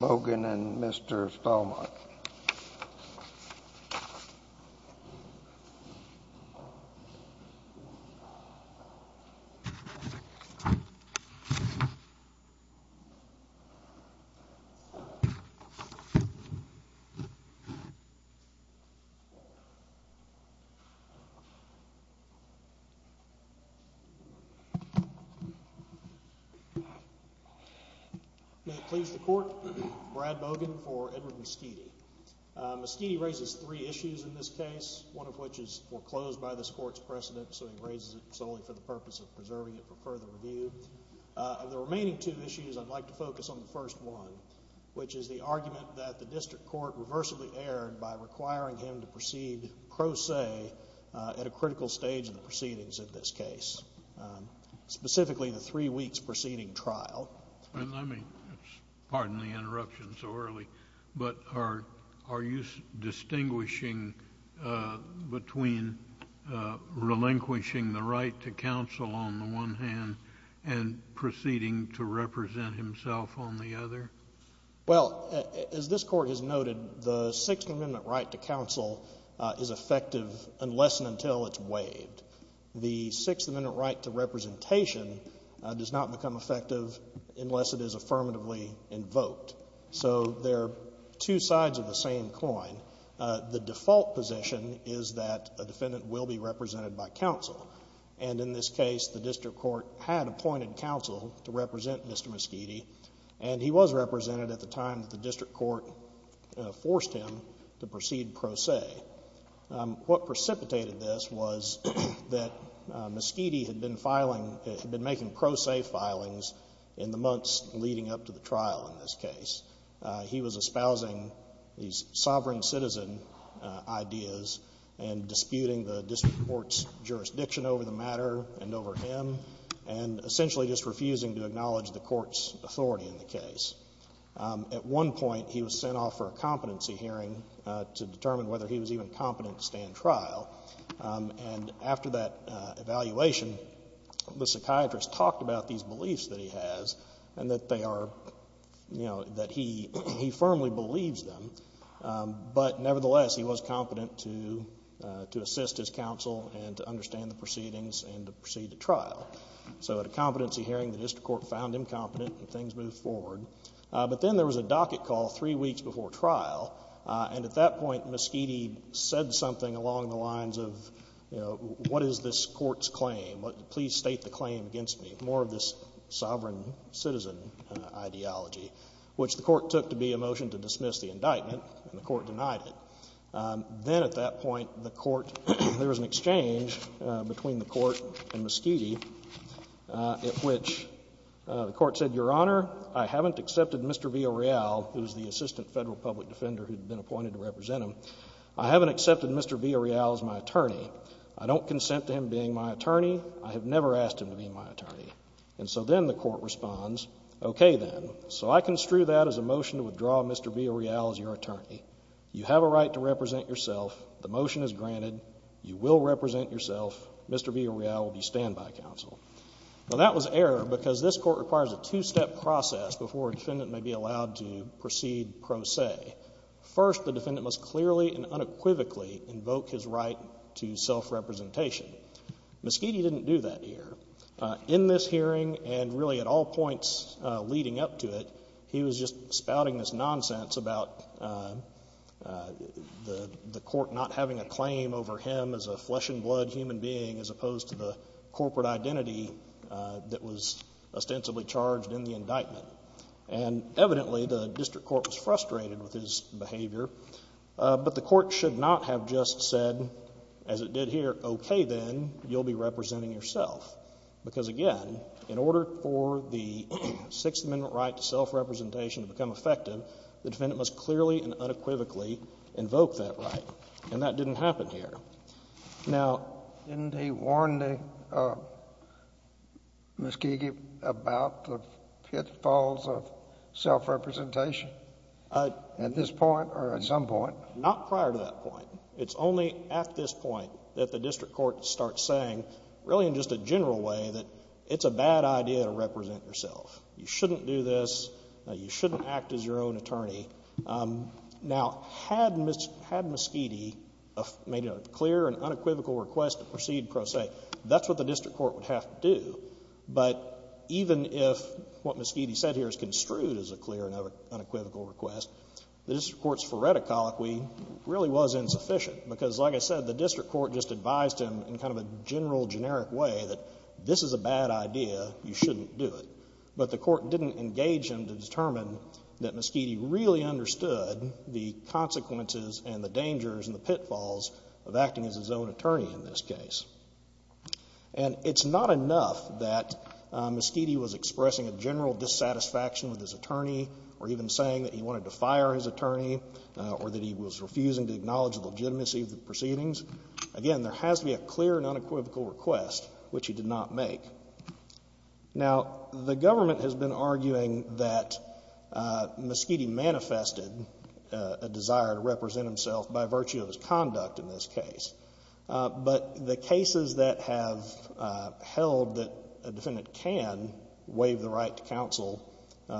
Logan and Mr. Stallmont. May it please the court, Brad Bogan for Edward Mesquiti. Mesquiti raises three issues in this case, one of which is foreclosed by this court's precedent, so he raises it solely for the purpose of preserving it for further review. Of the remaining two issues, I'd like to focus on the first one, which is the argument that the district court reversibly erred by requiring him to proceed crosse at a critical stage in the proceedings of this case, specifically the three weeks preceding trial. I mean, pardon the interruption so early, but are you distinguishing between relinquishing the right to counsel on the one hand and proceeding to represent himself on the other? Well, as this court has noted, the Sixth Amendment right to counsel is effective unless and until it's waived. The Sixth Amendment right to representation does not become effective unless it is affirmatively invoked, so they're two sides of the same coin. The default position is that a defendant will be represented by counsel, and in this case the district court had appointed counsel to represent Mr. Mesquiti, and he was represented at the time that the district court forced him to proceed crosse. What precipitated this was that Mesquiti had been making crosse filings in the months leading up to the trial in this case. He was espousing these sovereign citizen ideas and disputing the district court's jurisdiction over the matter and over him, and essentially just refusing to acknowledge the court's authority in the case. At one point, he was sent off for a competency hearing to determine whether he was even competent to stand trial, and after that evaluation, the psychiatrist talked about these beliefs that he has and that they are, you know, that he firmly believes them, but nevertheless he was competent to assist his counsel and to understand the proceedings and to proceed to trial. So at a competency hearing, the district court found him competent, and things moved forward. But then there was a docket call three weeks before trial, and at that point Mesquiti said something along the lines of, you know, what is this court's claim, please state the claim against me, more of this sovereign citizen ideology, which the court took to be a motion to dismiss the indictment, and the court denied it. Then at that point, the court, there was an exchange between the court and Mesquiti at which the court said, Your Honor, I haven't accepted Mr. Villarreal, who is the assistant federal public defender who had been appointed to represent him, I haven't accepted Mr. Villarreal as my attorney. I don't consent to him being my attorney. I have never asked him to be my attorney. And so then the court responds, okay then, so I construe that as a motion to withdraw Mr. Villarreal as your attorney. You have a right to represent yourself. The motion is granted. You will represent yourself. Mr. Villarreal will be standby counsel. Now, that was error because this court requires a two-step process before a defendant may be allowed to proceed pro se. First, the defendant must clearly and unequivocally invoke his right to self-representation. Mesquiti didn't do that here. In this hearing and really at all points leading up to it, he was just spouting this nonsense about the court not having a claim over him as a flesh-and-blood human being as opposed to the corporate identity that was ostensibly charged in the indictment. And evidently, the district court was frustrated with his behavior, but the court should not have just said, as it did here, okay then, you'll be representing yourself. Because again, in order for the Sixth Amendment right to self-representation to become effective, the defendant must clearly and unequivocally invoke that right. And that didn't happen here. Now, didn't he warn Mesquiti about the pitfalls of self-representation at this point or at some point? Not prior to that point. It's only at this point that the district court starts saying really in just a general way that it's a bad idea to represent yourself. You shouldn't do this. You shouldn't act as your own attorney. Now, had Mesquiti made a clear and unequivocal request to proceed pro se, that's what the district court would have to do. But even if what Mesquiti said here is construed as a clear and unequivocal request, the district court's phoreticology really was insufficient. Because like I said, the district court just advised him in kind of a general, generic way that this is a bad idea, you shouldn't do it. But the court didn't engage him to determine that Mesquiti really understood the consequences and the dangers and the pitfalls of acting as his own attorney in this case. And it's not enough that Mesquiti was expressing a general dissatisfaction with his attorney or even saying that he wanted to fire his attorney or that he was refusing to acknowledge the legitimacy of the proceedings. Again, there has to be a clear and unequivocal request, which he did not make. Now, the government has been arguing that Mesquiti manifested a desire to represent himself by virtue of his conduct in this case. But the cases that have held that a defendant can waive the right to counsel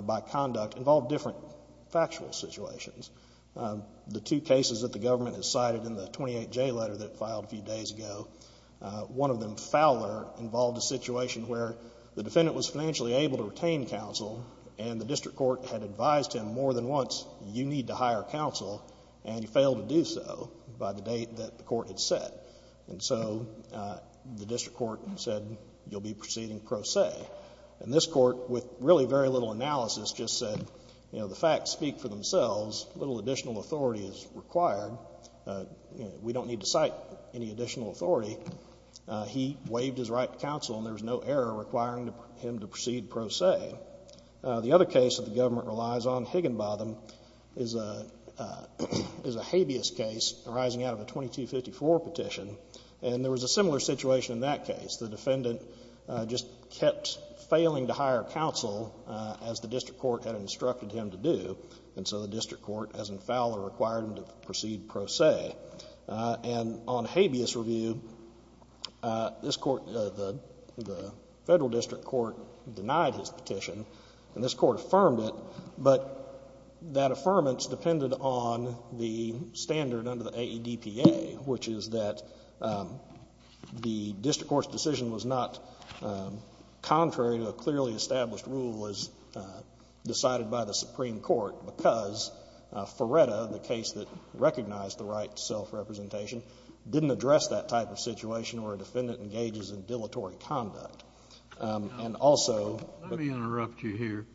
by conduct involve different factual situations. The two cases that the government has cited in the 28J letter that filed a few days ago, one of them, Fowler, involved a situation where the defendant was financially able to retain counsel and the district court had advised him more than once, you need to hire counsel and he failed to do so by the date that the court had set. And so the district court said, you'll be proceeding pro se. And this court, with really very little analysis, just said, you know, the facts speak for themselves. Little additional authority is required. You know, we don't need to cite any additional authority. He waived his right to counsel and there was no error requiring him to proceed pro se. The other case that the government relies on, Higginbotham, is a habeas case arising out of a 2254 petition. And there was a similar situation in that case. The defendant just kept failing to hire counsel as the district court had instructed him to do. And so the district court, as in Fowler, required him to proceed pro se. And on habeas review, this court, the Federal District Court denied his petition and this court affirmed it, but that affirmance depended on the standard under the AEDPA, which is that the district court's decision was not contrary to a clearly established rule as to whether or not the district court's decision was contrary to a clearly established rule. And the district court's decision was not contrary to a clearly established rule because Feretta, the case that recognized the right to self-representation, didn't address that type of situation where a defendant engages in dilatory conduct. And also— Let me interrupt you here.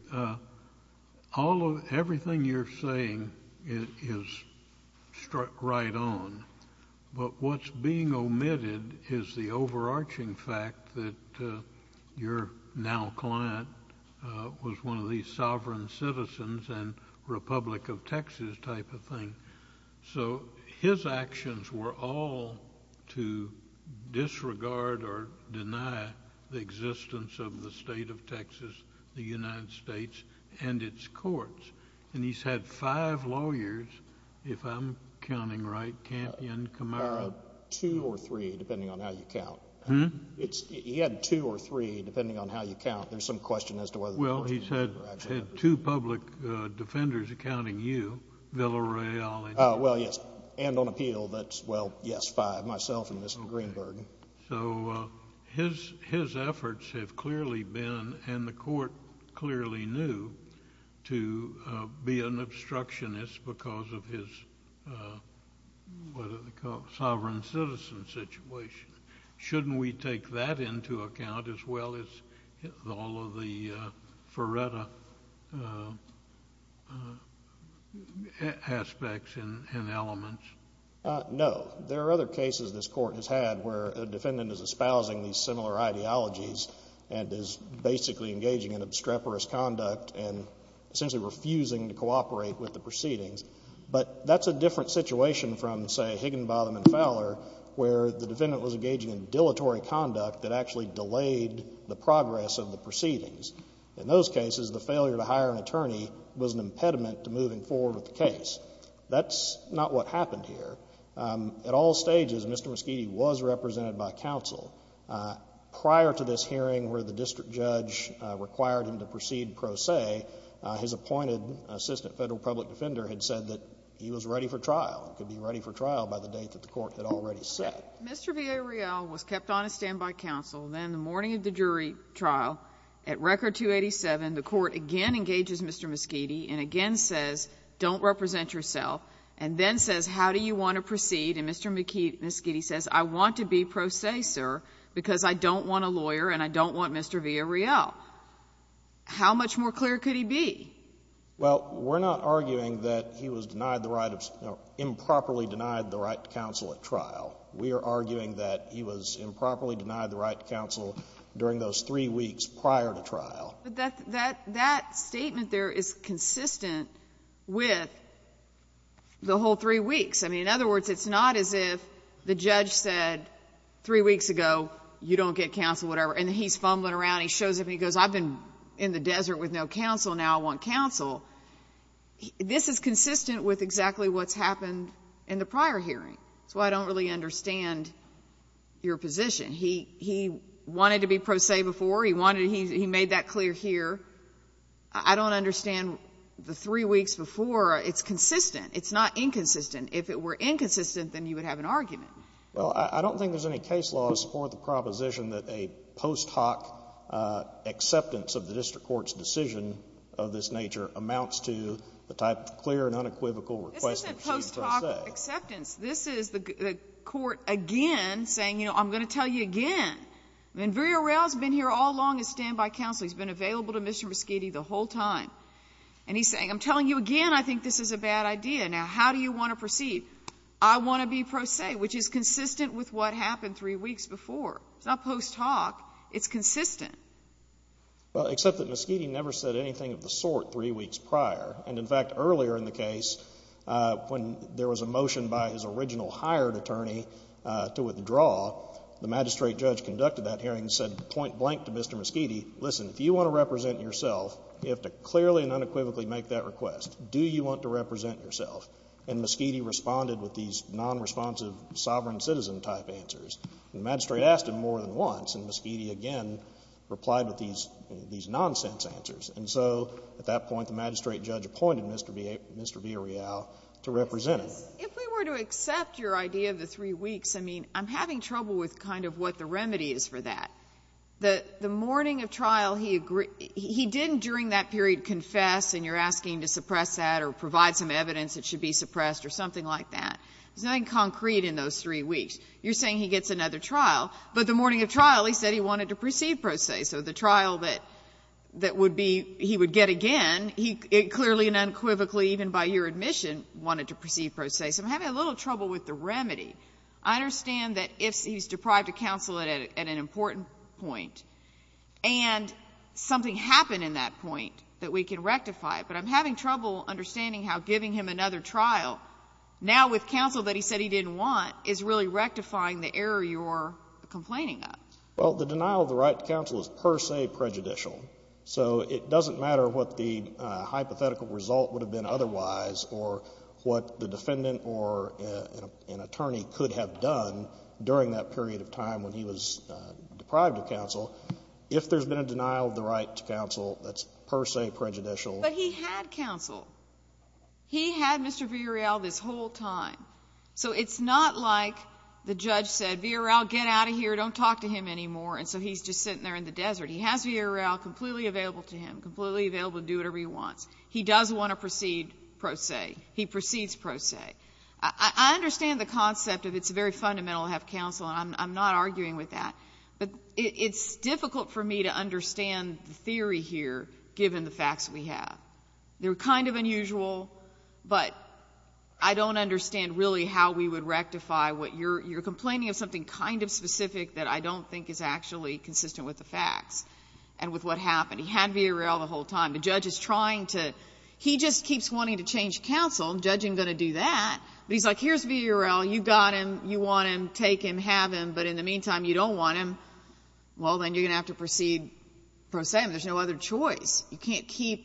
Everything you're saying is struck right on, but what's being omitted is the overarching fact that your now client was one of these sovereign citizens and Republic of Texas type of thing. So his actions were all to disregard or deny the existence of the state of Texas, the United States, and its courts. And he's had five lawyers, if I'm counting right, Campion, Camargo— He had two or three, depending on how you count. There's some question as to whether— Well, he's had two public defenders accounting you, Villareal— Well, yes. And on appeal, that's, well, yes, five, myself and Mr. Greenberg. So his efforts have clearly been, and the court clearly knew, to be an obstructionist because of his, what do they call it, sovereign citizen situation. Shouldn't we take that into account as well as all of the Ferretta aspects and elements? No. There are other cases this Court has had where a defendant is espousing these similar ideologies and is basically engaging in obstreperous conduct and essentially refusing to cooperate with the proceedings. But that's a different situation from, say, Higginbotham and Fowler, where the defendant was engaging in dilatory conduct that actually delayed the progress of the proceedings. In those cases, the failure to hire an attorney was an impediment to moving forward with the case. That's not what happened here. At all stages, Mr. Muschietti was represented by counsel. Prior to this hearing where the district judge required him to proceed pro se, his appointed assistant federal public defender had said that he was ready for trial and could be ready for trial by the date that the Court had already set. Mr. Villarreal was kept on a standby counsel. Then the morning of the jury trial, at Record 287, the Court again engages Mr. Muschietti and again says, don't represent yourself, and then says, how do you want to proceed? And Mr. Muschietti says, I want to be pro se, sir, because I don't want a lawyer and I don't want Mr. Villarreal. How much more clear could he be? Well, we're not arguing that he was denied the right of — improperly denied the right to counsel at trial. We are arguing that he was improperly denied the right to counsel during those three weeks prior to trial. That statement there is consistent with the whole three weeks. I mean, in other words, it's not as if the judge said three weeks ago, you don't get counsel, whatever, and he's fumbling around, he shows up and he goes, I've been in the desert with no counsel, now I want counsel. This is consistent with exactly what's happened in the prior hearing. That's why I don't really understand your position. He wanted to be pro se before, he wanted to — he made that clear here. I don't understand the three weeks before. It's consistent. It's not inconsistent. If it were inconsistent, then you would have an argument. Well, I don't think there's any case law to support the proposition that a post-hoc acceptance of the district court's decision of this nature amounts to the type of clear and unequivocal request to proceed pro se. This isn't post-hoc acceptance. This is the court again saying, you know, I'm going to tell you again. I mean, Verrierell's been here all along as standby counsel. He's been available to Mr. Moschitti the whole time. And he's saying, I'm telling you again I think this is a bad idea. Now, how do you want to proceed? I want to be pro se, which is consistent with what happened three weeks before. It's not post-hoc. It's consistent. Well, except that Moschitti never said anything of the sort three weeks prior. And, in fact, earlier in the case, when there was a motion by his original hired attorney to withdraw, the magistrate judge conducted that hearing and said point blank to Mr. Moschitti, listen, if you want to represent yourself, you have to clearly and unequivocally make that request. Do you want to represent yourself? And Moschitti responded with these nonresponsive sovereign citizen type answers. The magistrate asked him more than once, and Moschitti again replied with these nonsense answers. And so at that point, the magistrate judge appointed Mr. Villarreal to represent him. If we were to accept your idea of the three weeks, I mean, I'm having trouble with kind of what the remedy is for that. The morning of trial, he didn't during that period confess and you're asking to suppress that or provide some evidence that should be suppressed or something like that. There's nothing concrete in those three weeks. You're saying he gets another trial, but the morning of trial, he said he wanted to proceed pro se. So the trial that would be, he would get again, he clearly and unequivocally, even by your admission, wanted to proceed pro se. So I'm having a little trouble with the remedy. I understand that if he's deprived of counsel at an important point, and something happened in that point that we can rectify, but I'm having trouble understanding how giving him another trial now with counsel that he said he didn't want is really rectifying the error you're complaining of. Well, the denial of the right to counsel is per se prejudicial. So it doesn't matter what the hypothetical result would have been otherwise or what the defendant or an attorney could have done during that period of time when he was deprived of counsel. If there's been a denial of the right to counsel, that's per se prejudicial. But he had counsel. He had Mr. Virial this whole time. So it's not like the judge said, Virial, get out of here, don't talk to him anymore, and so he's just sitting there in the desert. He has Virial completely available to him, completely available to do whatever he wants. He does want to proceed pro se. He proceeds pro se. I understand the concept of it's very fundamental to have counsel, and I'm not arguing with that. But it's difficult for me to understand the theory here, given the facts we have. They're kind of unusual, but I don't understand really how we would rectify what you're complaining of something kind of specific that I don't think is actually consistent with the facts and with what happened. He had Virial the whole time. The judge is trying to he just keeps wanting to change counsel. The judge isn't going to do that. But he's like, here's Virial. You got him. You want him. Take him. Have him. But in the meantime, you don't want him. Well, then you're going to have to proceed pro se. There's no other choice. The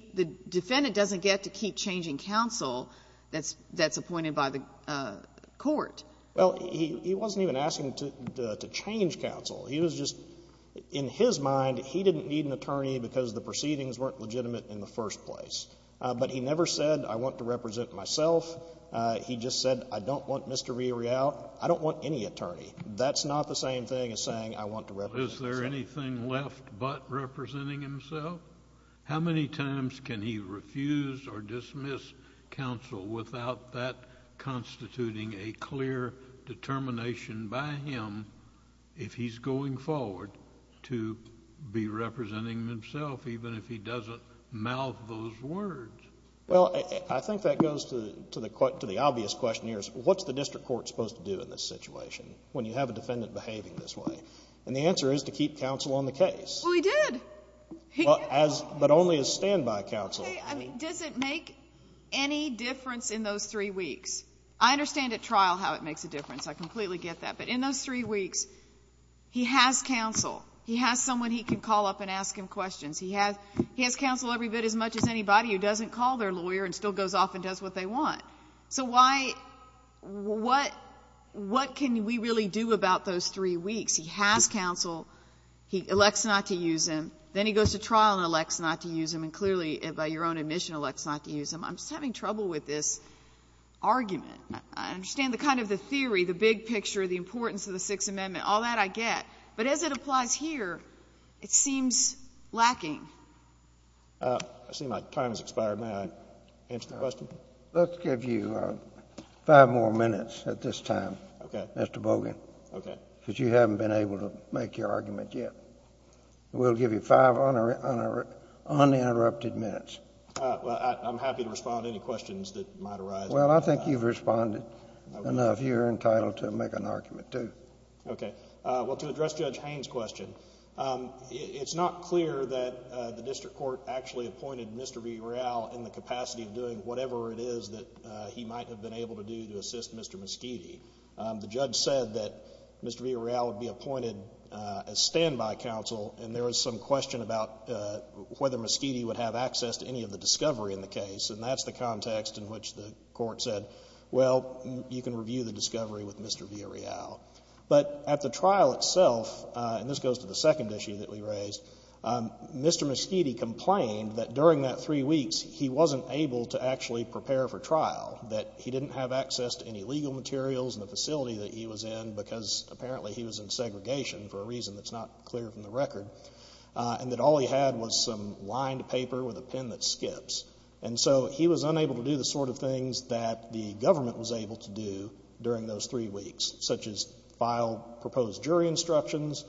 defendant doesn't get to keep changing counsel that's appointed by the court. Well, he wasn't even asking to change counsel. He was just, in his mind, he didn't need an attorney because the proceedings weren't legitimate in the first place. But he never said, I want to represent myself. He just said, I don't want Mr. Virial. I don't want any attorney. That's not the same thing as saying, I want to represent myself. Is there anything left but representing himself? How many times can he refuse or dismiss counsel without that constituting a clear determination by him, if he's going forward, to be representing himself, even if he doesn't mouth those words? Well, I think that goes to the obvious question here is, what's the district court supposed to do in this situation when you have a defendant behaving this way? And the answer is to keep counsel on the case. Well, he did. He did. But only as standby counsel. Okay. I mean, does it make any difference in those three weeks? I understand at trial how it makes a difference. I completely get that. But in those three weeks, he has counsel. He has someone he can call up and ask him questions. He has counsel every bit as much as anybody who doesn't call their lawyer and still goes off and does what they want. So why, what can we really do about those three weeks? He has counsel. He elects not to use him. Then he goes to trial and elects not to use him. And clearly, by your own admission, elects not to use him. I'm just having trouble with this argument. I understand the kind of the theory, the big picture, the importance of the Sixth Amendment, all that I get. But as it applies here, it seems lacking. I see my time has expired. May I answer the question? Let's give you five more minutes at this time, Mr. Bogan. Okay. Because you haven't been able to make your argument yet. We'll give you five uninterrupted minutes. Well, I'm happy to respond to any questions that might arise. Well, I think you've responded enough. You're entitled to make an argument, too. Okay. Well, to address Judge Haines' question, it's not clear that the district court actually appointed Mr. V. Real in the capacity of doing whatever it is that he might have been able to do to assist Mr. Meschidi. The judge said that Mr. V. Real would be appointed as standby counsel, and there was some question about whether Meschidi would have access to any of the discovery in the case. And that's the context in which the court said, well, you can review the discovery with Mr. V. Real. But at the trial itself, and this goes to the second issue that we raised, Mr. Meschidi complained that during that three weeks, he wasn't able to actually materials in the facility that he was in, because apparently he was in segregation for a reason that's not clear from the record, and that all he had was some lined paper with a pen that skips. And so he was unable to do the sort of things that the government was able to do during those three weeks, such as file proposed jury instructions.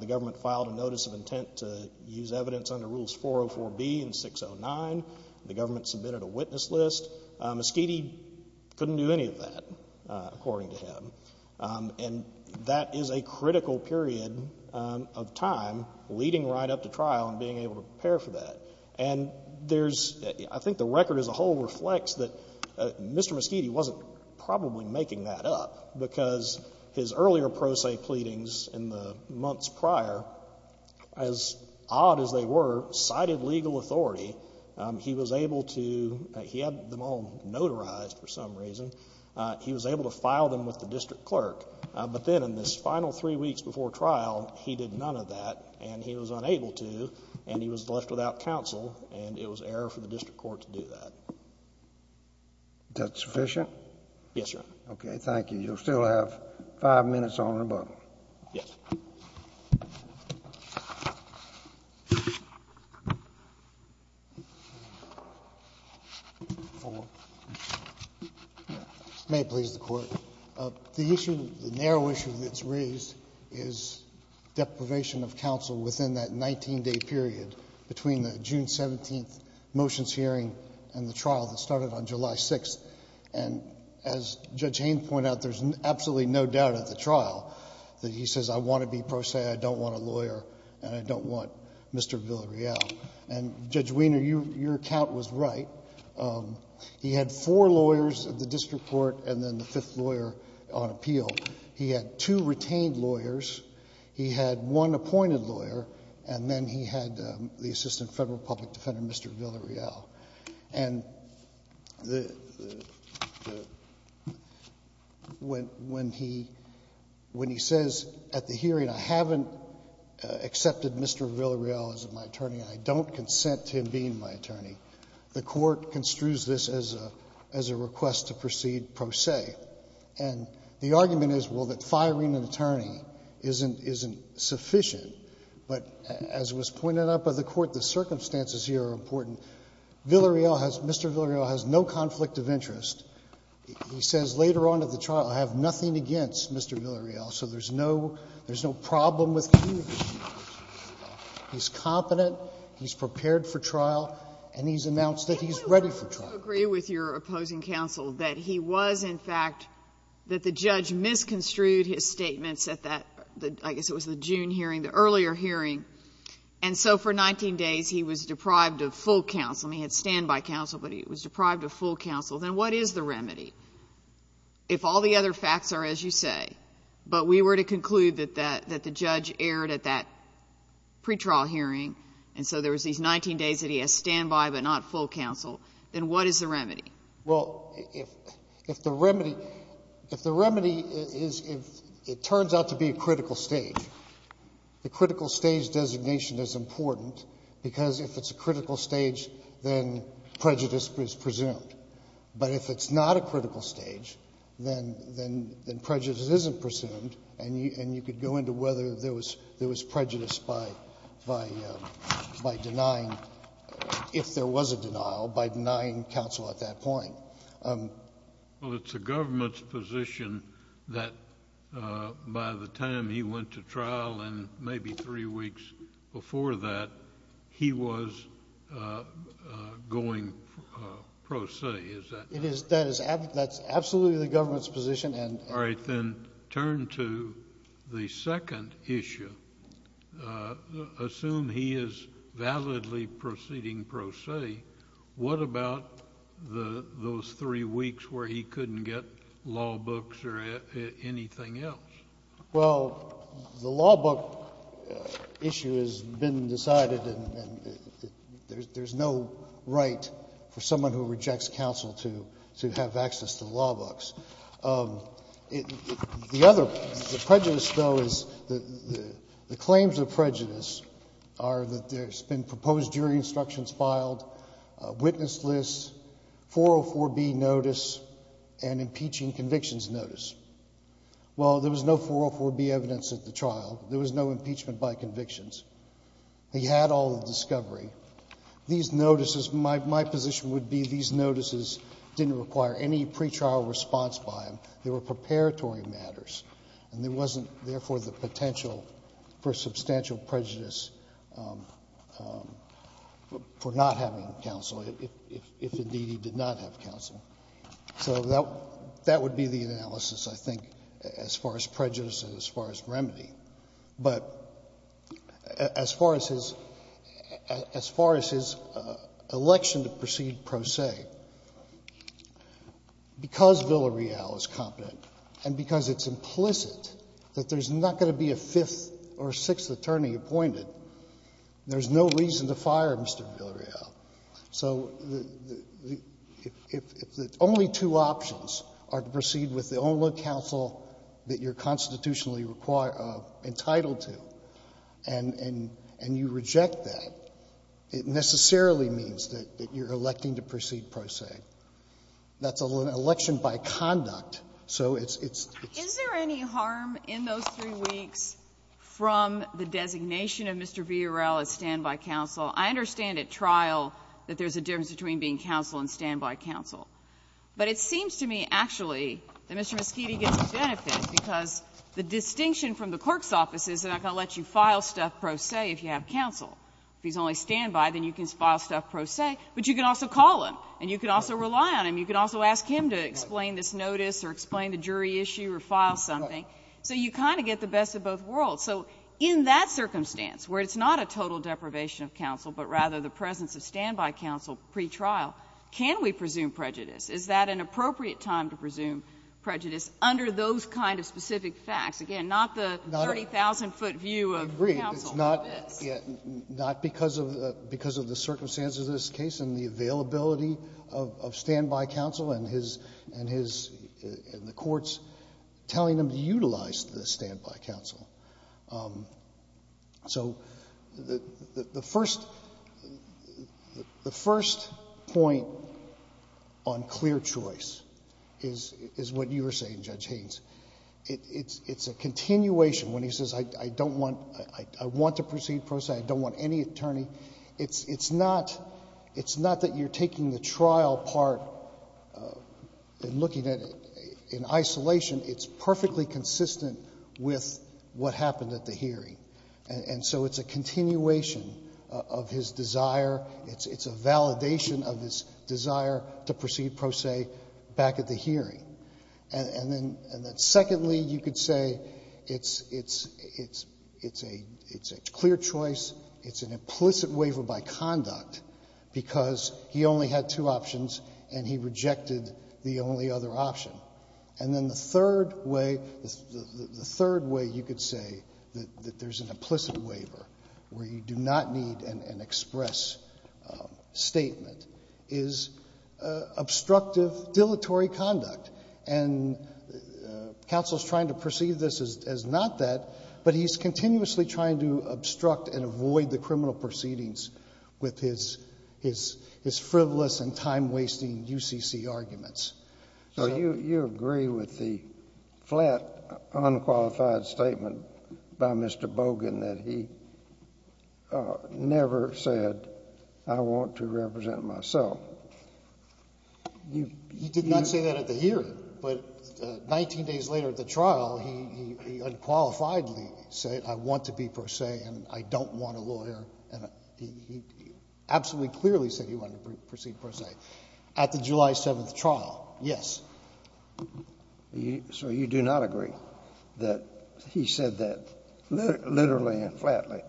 The government filed a notice of intent to use evidence under Rules 404B and 609. The government submitted a witness list. Meschidi couldn't do any of that, according to him. And that is a critical period of time leading right up to trial and being able to prepare for that. And there's, I think the record as a whole reflects that Mr. Meschidi wasn't probably making that up, because his earlier pro se pleadings in the months prior, as odd as they were, cited legal authority. He was able to... he had them all notarized for some reason. He was able to file them with the district clerk, but then in this final three weeks before trial, he did none of that, and he was unable to, and he was left without counsel, and it was error for the district court to do that. That sufficient? Yes, Your Honor. Okay. Thank you. You'll still have five minutes on the rebuttal. Yes. May it please the Court. The issue, the narrow issue that's raised is deprivation of counsel within that 19-day period between the June 17th motions hearing and the trial that started on July 6th. And as Judge Haynes pointed out, there's absolutely no doubt at the trial that he says, I want to be pro se, I don't want a lawyer, and I don't want Mr. Villarreal. And Judge Weiner, your account was right. He had four lawyers at the district court and then the fifth lawyer on appeal. He had two retained lawyers. He had one appointed lawyer, and then he had the Assistant Federal Public Defender, Mr. Villarreal. And when he says at the hearing, I haven't accepted Mr. Villarreal as my attorney and I don't consent to him being my attorney, the Court construes this as a request to proceed pro se. And the argument is, well, that firing an attorney isn't sufficient, but as was pointed out by the Court, the circumstances here are important. Villarreal has no conflict of interest. He says later on at the trial, I have nothing against Mr. Villarreal, so there's no problem with communication with Mr. Villarreal. He's competent, he's prepared for trial, and he's announced that he's ready for trial. I do agree with your opposing counsel that he was, in fact, that the judge misconstrued his statements at that, I guess it was the June hearing, the earlier hearing. And so for 19 days, he was deprived of full counsel. I mean, he had standby counsel, but he was deprived of full counsel. Then what is the remedy? If all the other facts are as you say, but we were to conclude that the judge erred at that pretrial hearing, and so there was these 19 days that he had standby but not full counsel, then what is the remedy? Well, if the remedy, if the remedy is if it turns out to be a critical stage, the critical stage designation is important, because if it's a critical stage, then prejudice is presumed. But if it's not a critical stage, then prejudice isn't presumed, and you could go into whether there was prejudice by denying, if there was a denial, by denying counsel at that point. Well, it's the government's position that by the time he went to trial and maybe three weeks before that, he was going pro se, is that right? That's absolutely the government's position. All right. Then turn to the second issue. Assume he is validly proceeding pro se. What about those three weeks where he couldn't get law books or anything else? Well, the law book issue has been decided, and there's no right for someone who rejects counsel to have access to the law books. The other prejudice, though, is the claims of prejudice are that there's been proposed jury instructions filed, witness lists, 404B notice, and impeaching convictions notice. Well, there was no 404B evidence at the trial. There was no impeachment by convictions. He had all the discovery. These notices, my position would be these notices didn't require any pretrial response by him. They were preparatory matters, and there wasn't, therefore, the potential for substantial prejudice for not having counsel, if indeed he did not have counsel. So that would be the analysis, I think, as far as prejudice and as far as remedy. But as far as his election to proceed pro se, because Villareal is competent and because it's implicit that there's not going to be a fifth or sixth attorney appointed, there's no reason to fire Mr. Villareal. So if the only two options are to proceed with the only counsel that you're constitutionally entitled to, and you reject that, it necessarily means that you're electing to proceed pro se. That's an election by conduct. So it's the case. Is there any harm in those three weeks from the designation of Mr. Villareal as stand-by counsel? I understand at trial that there's a difference between being counsel and stand-by counsel. But it seems to me, actually, that Mr. Meschiti gets a benefit, because the distinction from the clerk's office is they're not going to let you file stuff pro se if you have counsel. If he's only stand-by, then you can file stuff pro se, but you can also call him, and you can also rely on him. You can also ask him to explain this notice or explain the jury issue or file something. So you kind of get the best of both worlds. So in that circumstance, where it's not a total deprivation of counsel, but rather the presence of stand-by counsel pretrial, can we presume prejudice? Is that an appropriate time to presume prejudice under those kind of specific facts? Roberts. Not because of the circumstances of this case and the availability of stand-by counsel and his and the courts telling him to utilize the stand-by counsel. So the first point on clear choice is what you were saying, Judge Haynes. It's a continuation when he says I don't want to proceed pro se, I don't want any attorney. It's not that you're taking the trial part and looking at it in isolation. It's perfectly consistent with what happened at the hearing. And so it's a continuation of his desire. It's a validation of his desire to proceed pro se back at the hearing. And then secondly, you could say it's a clear choice, it's an implicit waiver by conduct because he only had two options and he rejected the only other option. And then the third way, the third way you could say that there's an implicit waiver where you do not need an express statement is obstructive dilatory conduct. And counsel's trying to perceive this as not that, but he's continuously trying to obstruct and avoid the criminal proceedings with his frivolous and time-wasting UCC arguments. So you agree with the flat, unqualified statement by Mr. Bogan that he never said I want to represent myself? He did not say that at the hearing, but 19 days later at the trial, he unqualifiedly said I want to be pro se and I don't want a lawyer. And he absolutely clearly said he wanted to proceed pro se at the July 7th trial. Yes. So you do not agree that he said that literally and flatly?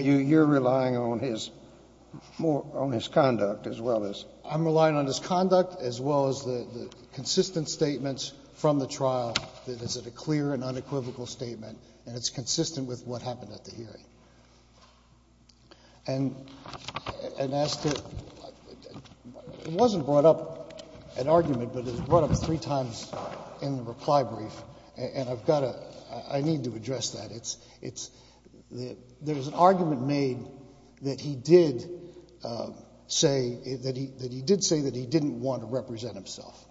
You're relying on his conduct as well as? I'm relying on his conduct as well as the consistent statements from the trial that it's a clear and unequivocal statement and it's consistent with what happened at the hearing. And as to the question, it wasn't brought up at argument, but it was brought up three times in the reply brief, and I've got to, I need to address that. It's, there was an argument made that he did say, that he did say that he didn't want to represent himself.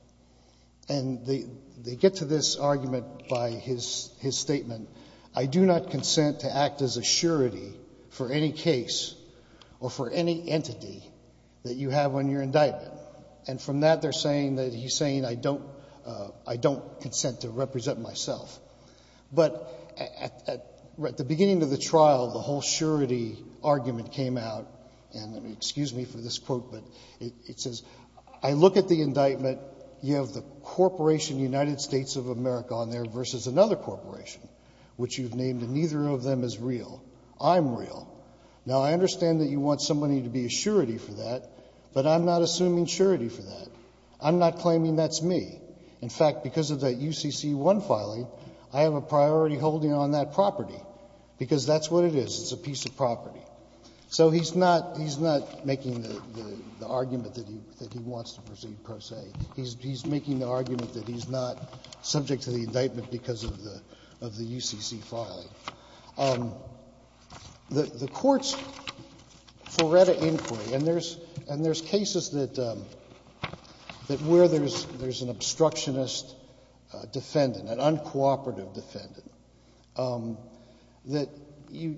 And they get to this argument by his statement, I do not consent to act as a surety for any case or for any entity that you have on your indictment. And from that, they're saying that he's saying I don't consent to represent myself. But at the beginning of the trial, the whole surety argument came out, and excuse me for this quote, but it says, I look at the indictment, you have the corporation United States of America on there versus another corporation, which you've named and neither of them is real. I'm real. Now, I understand that you want somebody to be a surety for that, but I'm not assuming surety for that. I'm not claiming that's me. In fact, because of that UCC-1 filing, I have a priority holding on that property, because that's what it is. It's a piece of property. So he's not, he's not making the argument that he wants to proceed per se. He's making the argument that he's not subject to the indictment because of the UCC filing. The Court's Furetta Inquiry, and there's, and there's cases that, that where there's an obstructionist defendant, an uncooperative defendant, that you,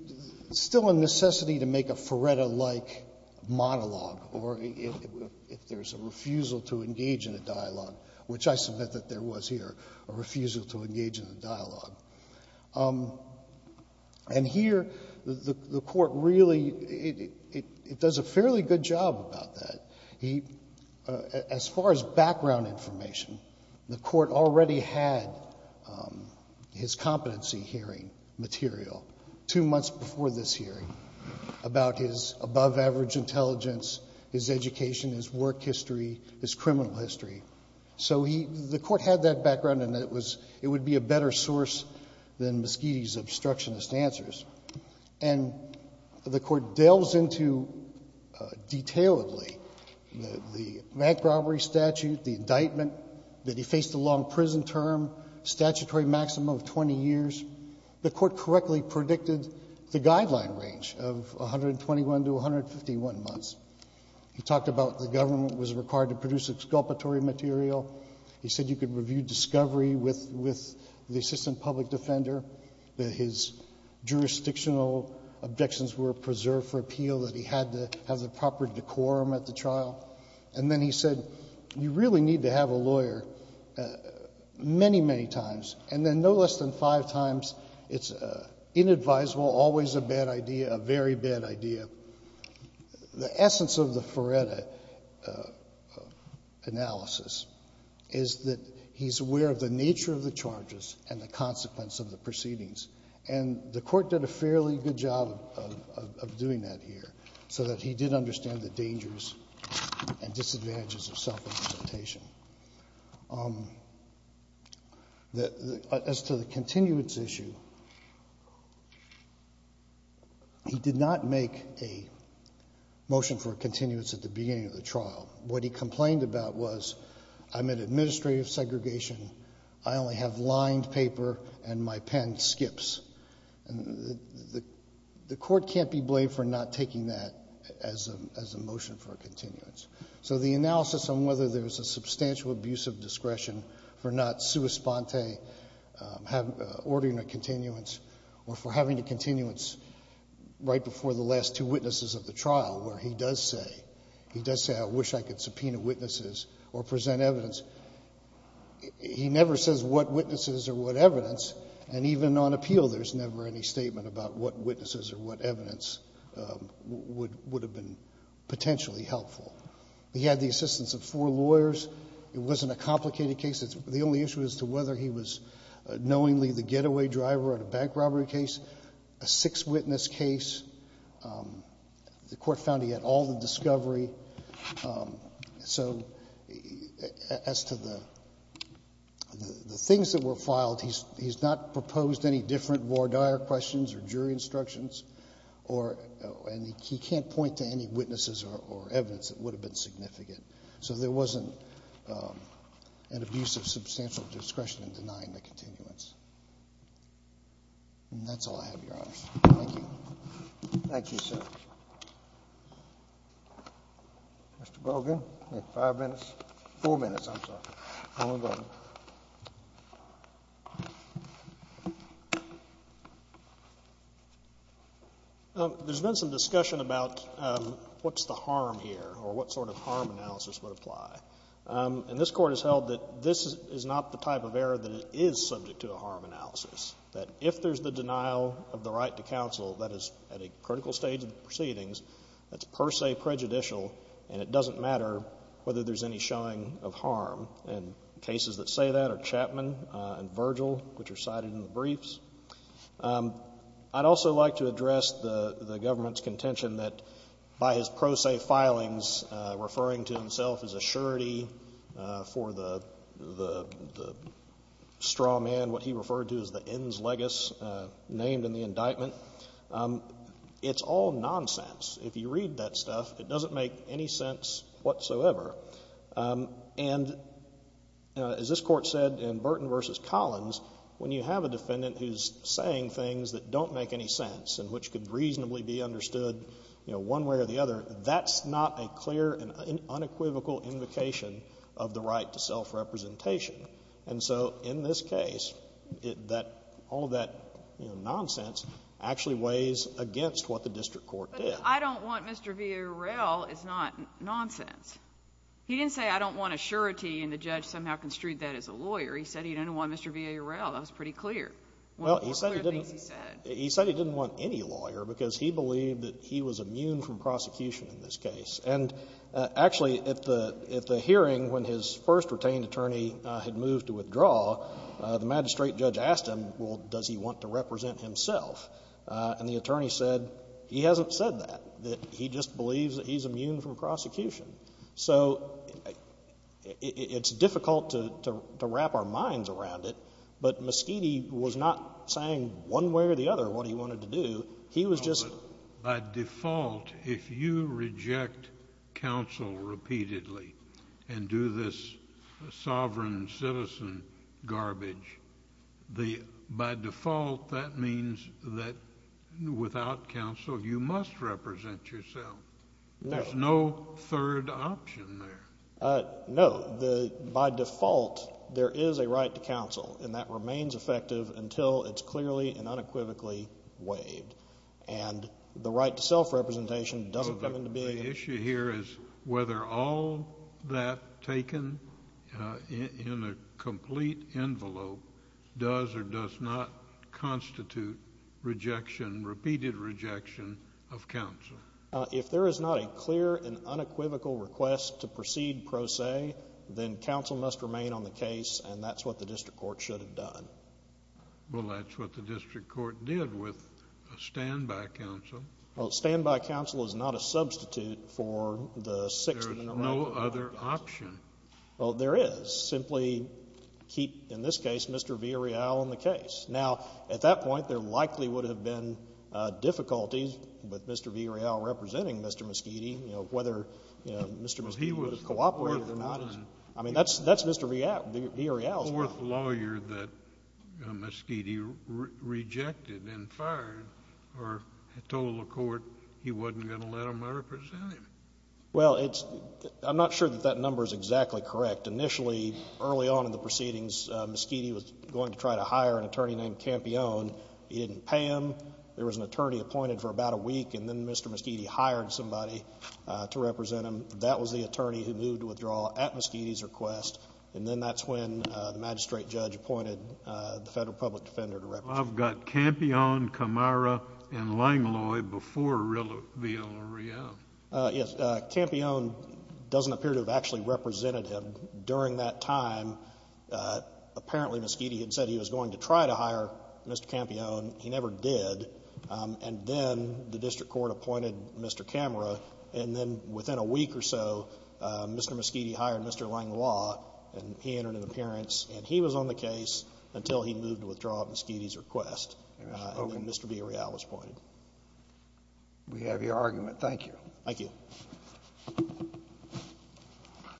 still a necessity to make a Furetta-like monologue, or if there's a refusal to engage in a dialogue, which I submit that there was here, a refusal to engage in a dialogue. And here, the Court really, it does a fairly good job about that. He, as far as background information, the Court already had his competency hearing material two months before this hearing about his above-average intelligence, his education, his work history, his criminal history. So he, the Court had that background, and it was, it would be a better source than Moschitti's obstructionist answers. And the Court delves into, detailedly, the, the bank robbery statute, the indictment, that he faced a long prison term, statutory maximum of 20 years. The Court correctly predicted the guideline range of 121 to 151 months. He talked about the government was required to produce exculpatory material. He said you could review discovery with, with the assistant public defender, that his jurisdictional objections were preserved for appeal, that he had to have the proper decorum at the trial. And then he said, you really need to have a lawyer many, many times. And then no less than five times, it's inadvisable, always a bad idea, a very bad idea. The essence of the Feretta analysis is that he's aware of the nature of the charges and the consequence of the proceedings. And the Court did a fairly good job of, of, of doing that here, so that he did understand the dangers and disadvantages of self-implementation. The, as to the continuance issue, he did not make any, any, any, any, any, any, any motion for a continuance at the beginning of the trial. What he complained about was, I'm in administrative segregation. I only have lined paper and my pen skips. And the, the, the Court can't be blamed for not taking that as a, as a motion for a continuance. So the analysis on whether there's a substantial abuse of discretion for not sua sponte, have, ordering a continuance, or for having a continuance right before the last two witnesses of the trial, where he does say, he does say, I wish I could subpoena witnesses or present evidence. He never says what witnesses or what evidence, and even on appeal, there's never any statement about what witnesses or what evidence would, would have been potentially helpful. He had the assistance of four lawyers. It wasn't a complicated case. It's, the only issue as to whether he was knowingly the getaway driver at a bank robbery case, a six witness case. The court found he had all the discovery. So as to the, the, the things that were filed, he's, he's not proposed any different voir dire questions or jury instructions. Or, and he can't point to any witnesses or, or evidence that would have been significant. So there wasn't an abuse of substantial discretion in denying the continuance. And that's all I have, Your Honor. Thank you. Thank you, sir. Mr. Bogan, you have five minutes, four minutes, I'm sorry. Go ahead. There's been some discussion about what's the harm here, or what sort of harm analysis would apply. And this court has held that this is not the type of error that it is subject to a harm analysis. That if there's the denial of the right to counsel, that is at a critical stage of proceedings, that's per se prejudicial. And it doesn't matter whether there's any showing of harm. And cases that say that are Chapman and Virgil, which are cited in the briefs. I'd also like to address the, the government's contention that by his pro se filings referring to himself as a surety for the, the, the straw man, what he referred to as the ends legis, named in the indictment. It's all nonsense. If you read that stuff, it doesn't make any sense whatsoever. And as this court said in Burton versus Collins, when you have a defendant who's saying things that don't make any sense and which could reasonably be understood, you know, one way or the other, that's not a clear and unequivocal invocation of the right to self representation. And so, in this case, it, that, all of that, you know, nonsense actually weighs against what the district court did. I don't want Mr. VARL is not nonsense. He didn't say I don't want a surety and the judge somehow construed that as a lawyer. He said he didn't want Mr. VARL. That was pretty clear. Well, he said he didn't, he said he didn't want any lawyer because he believed that he was immune from prosecution in this case. And actually, at the, at the hearing, when his first retained attorney had moved to withdraw, the magistrate judge asked him, well, does he want to represent himself? And the attorney said, he hasn't said that, that he just believes that he's immune from prosecution. So, it, it, it's difficult to, to, to wrap our minds around it. But Moschini was not saying one way or the other what he wanted to do. He was just. By default, if you reject counsel repeatedly and do this sovereign citizen garbage, the, by default, that means that without counsel, you must represent yourself. There's no third option there. No, the, by default, there is a right to counsel, and that remains effective until it's clearly and unequivocally waived. And the right to self-representation doesn't come into being. The issue here is whether all that taken in, in a complete envelope does or does not constitute rejection, repeated rejection of counsel. If there is not a clear and unequivocal request to proceed pro se, then counsel must remain on the case, and that's what the district court should have done. Well, that's what the district court did with a standby counsel. Well, a standby counsel is not a substitute for the sixth and the right. There is no other option. Well, there is. Simply keep, in this case, Mr. V. Areal on the case. Now, at that point, there likely would have been difficulties with Mr. V. Areal representing Mr. Moschini, you know, whether, you know, Mr. Moschini would have cooperated or not. I mean, that's, that's Mr. V. Areal's problem. Fourth lawyer that Moschini rejected and fired or told the court he wasn't going to let him represent him. Well, it's, I'm not sure that that number is exactly correct. Initially, early on in the proceedings, Moschini was going to try to hire an attorney named Campione. He didn't pay him. There was an attorney appointed for about a week, and then Mr. Moschini hired somebody to represent him. That was the attorney who moved to withdraw at Moschini's request. And then that's when the magistrate judge appointed the federal public defender to represent him. I've got Campione, Camara, and Langlois before V. Areal. Yes. Campione doesn't appear to have actually represented him during that time. Apparently, Moschini had said he was going to try to hire Mr. Campione. He never did. And then the district court appointed Mr. Camara. And then within a week or so, Mr. Moschini hired Mr. Langlois, and he entered an appearance, and he was on the case until he moved to withdraw at Moschini's request, and then Mr. V. Areal was appointed. We have your argument. Thank you. Thank you.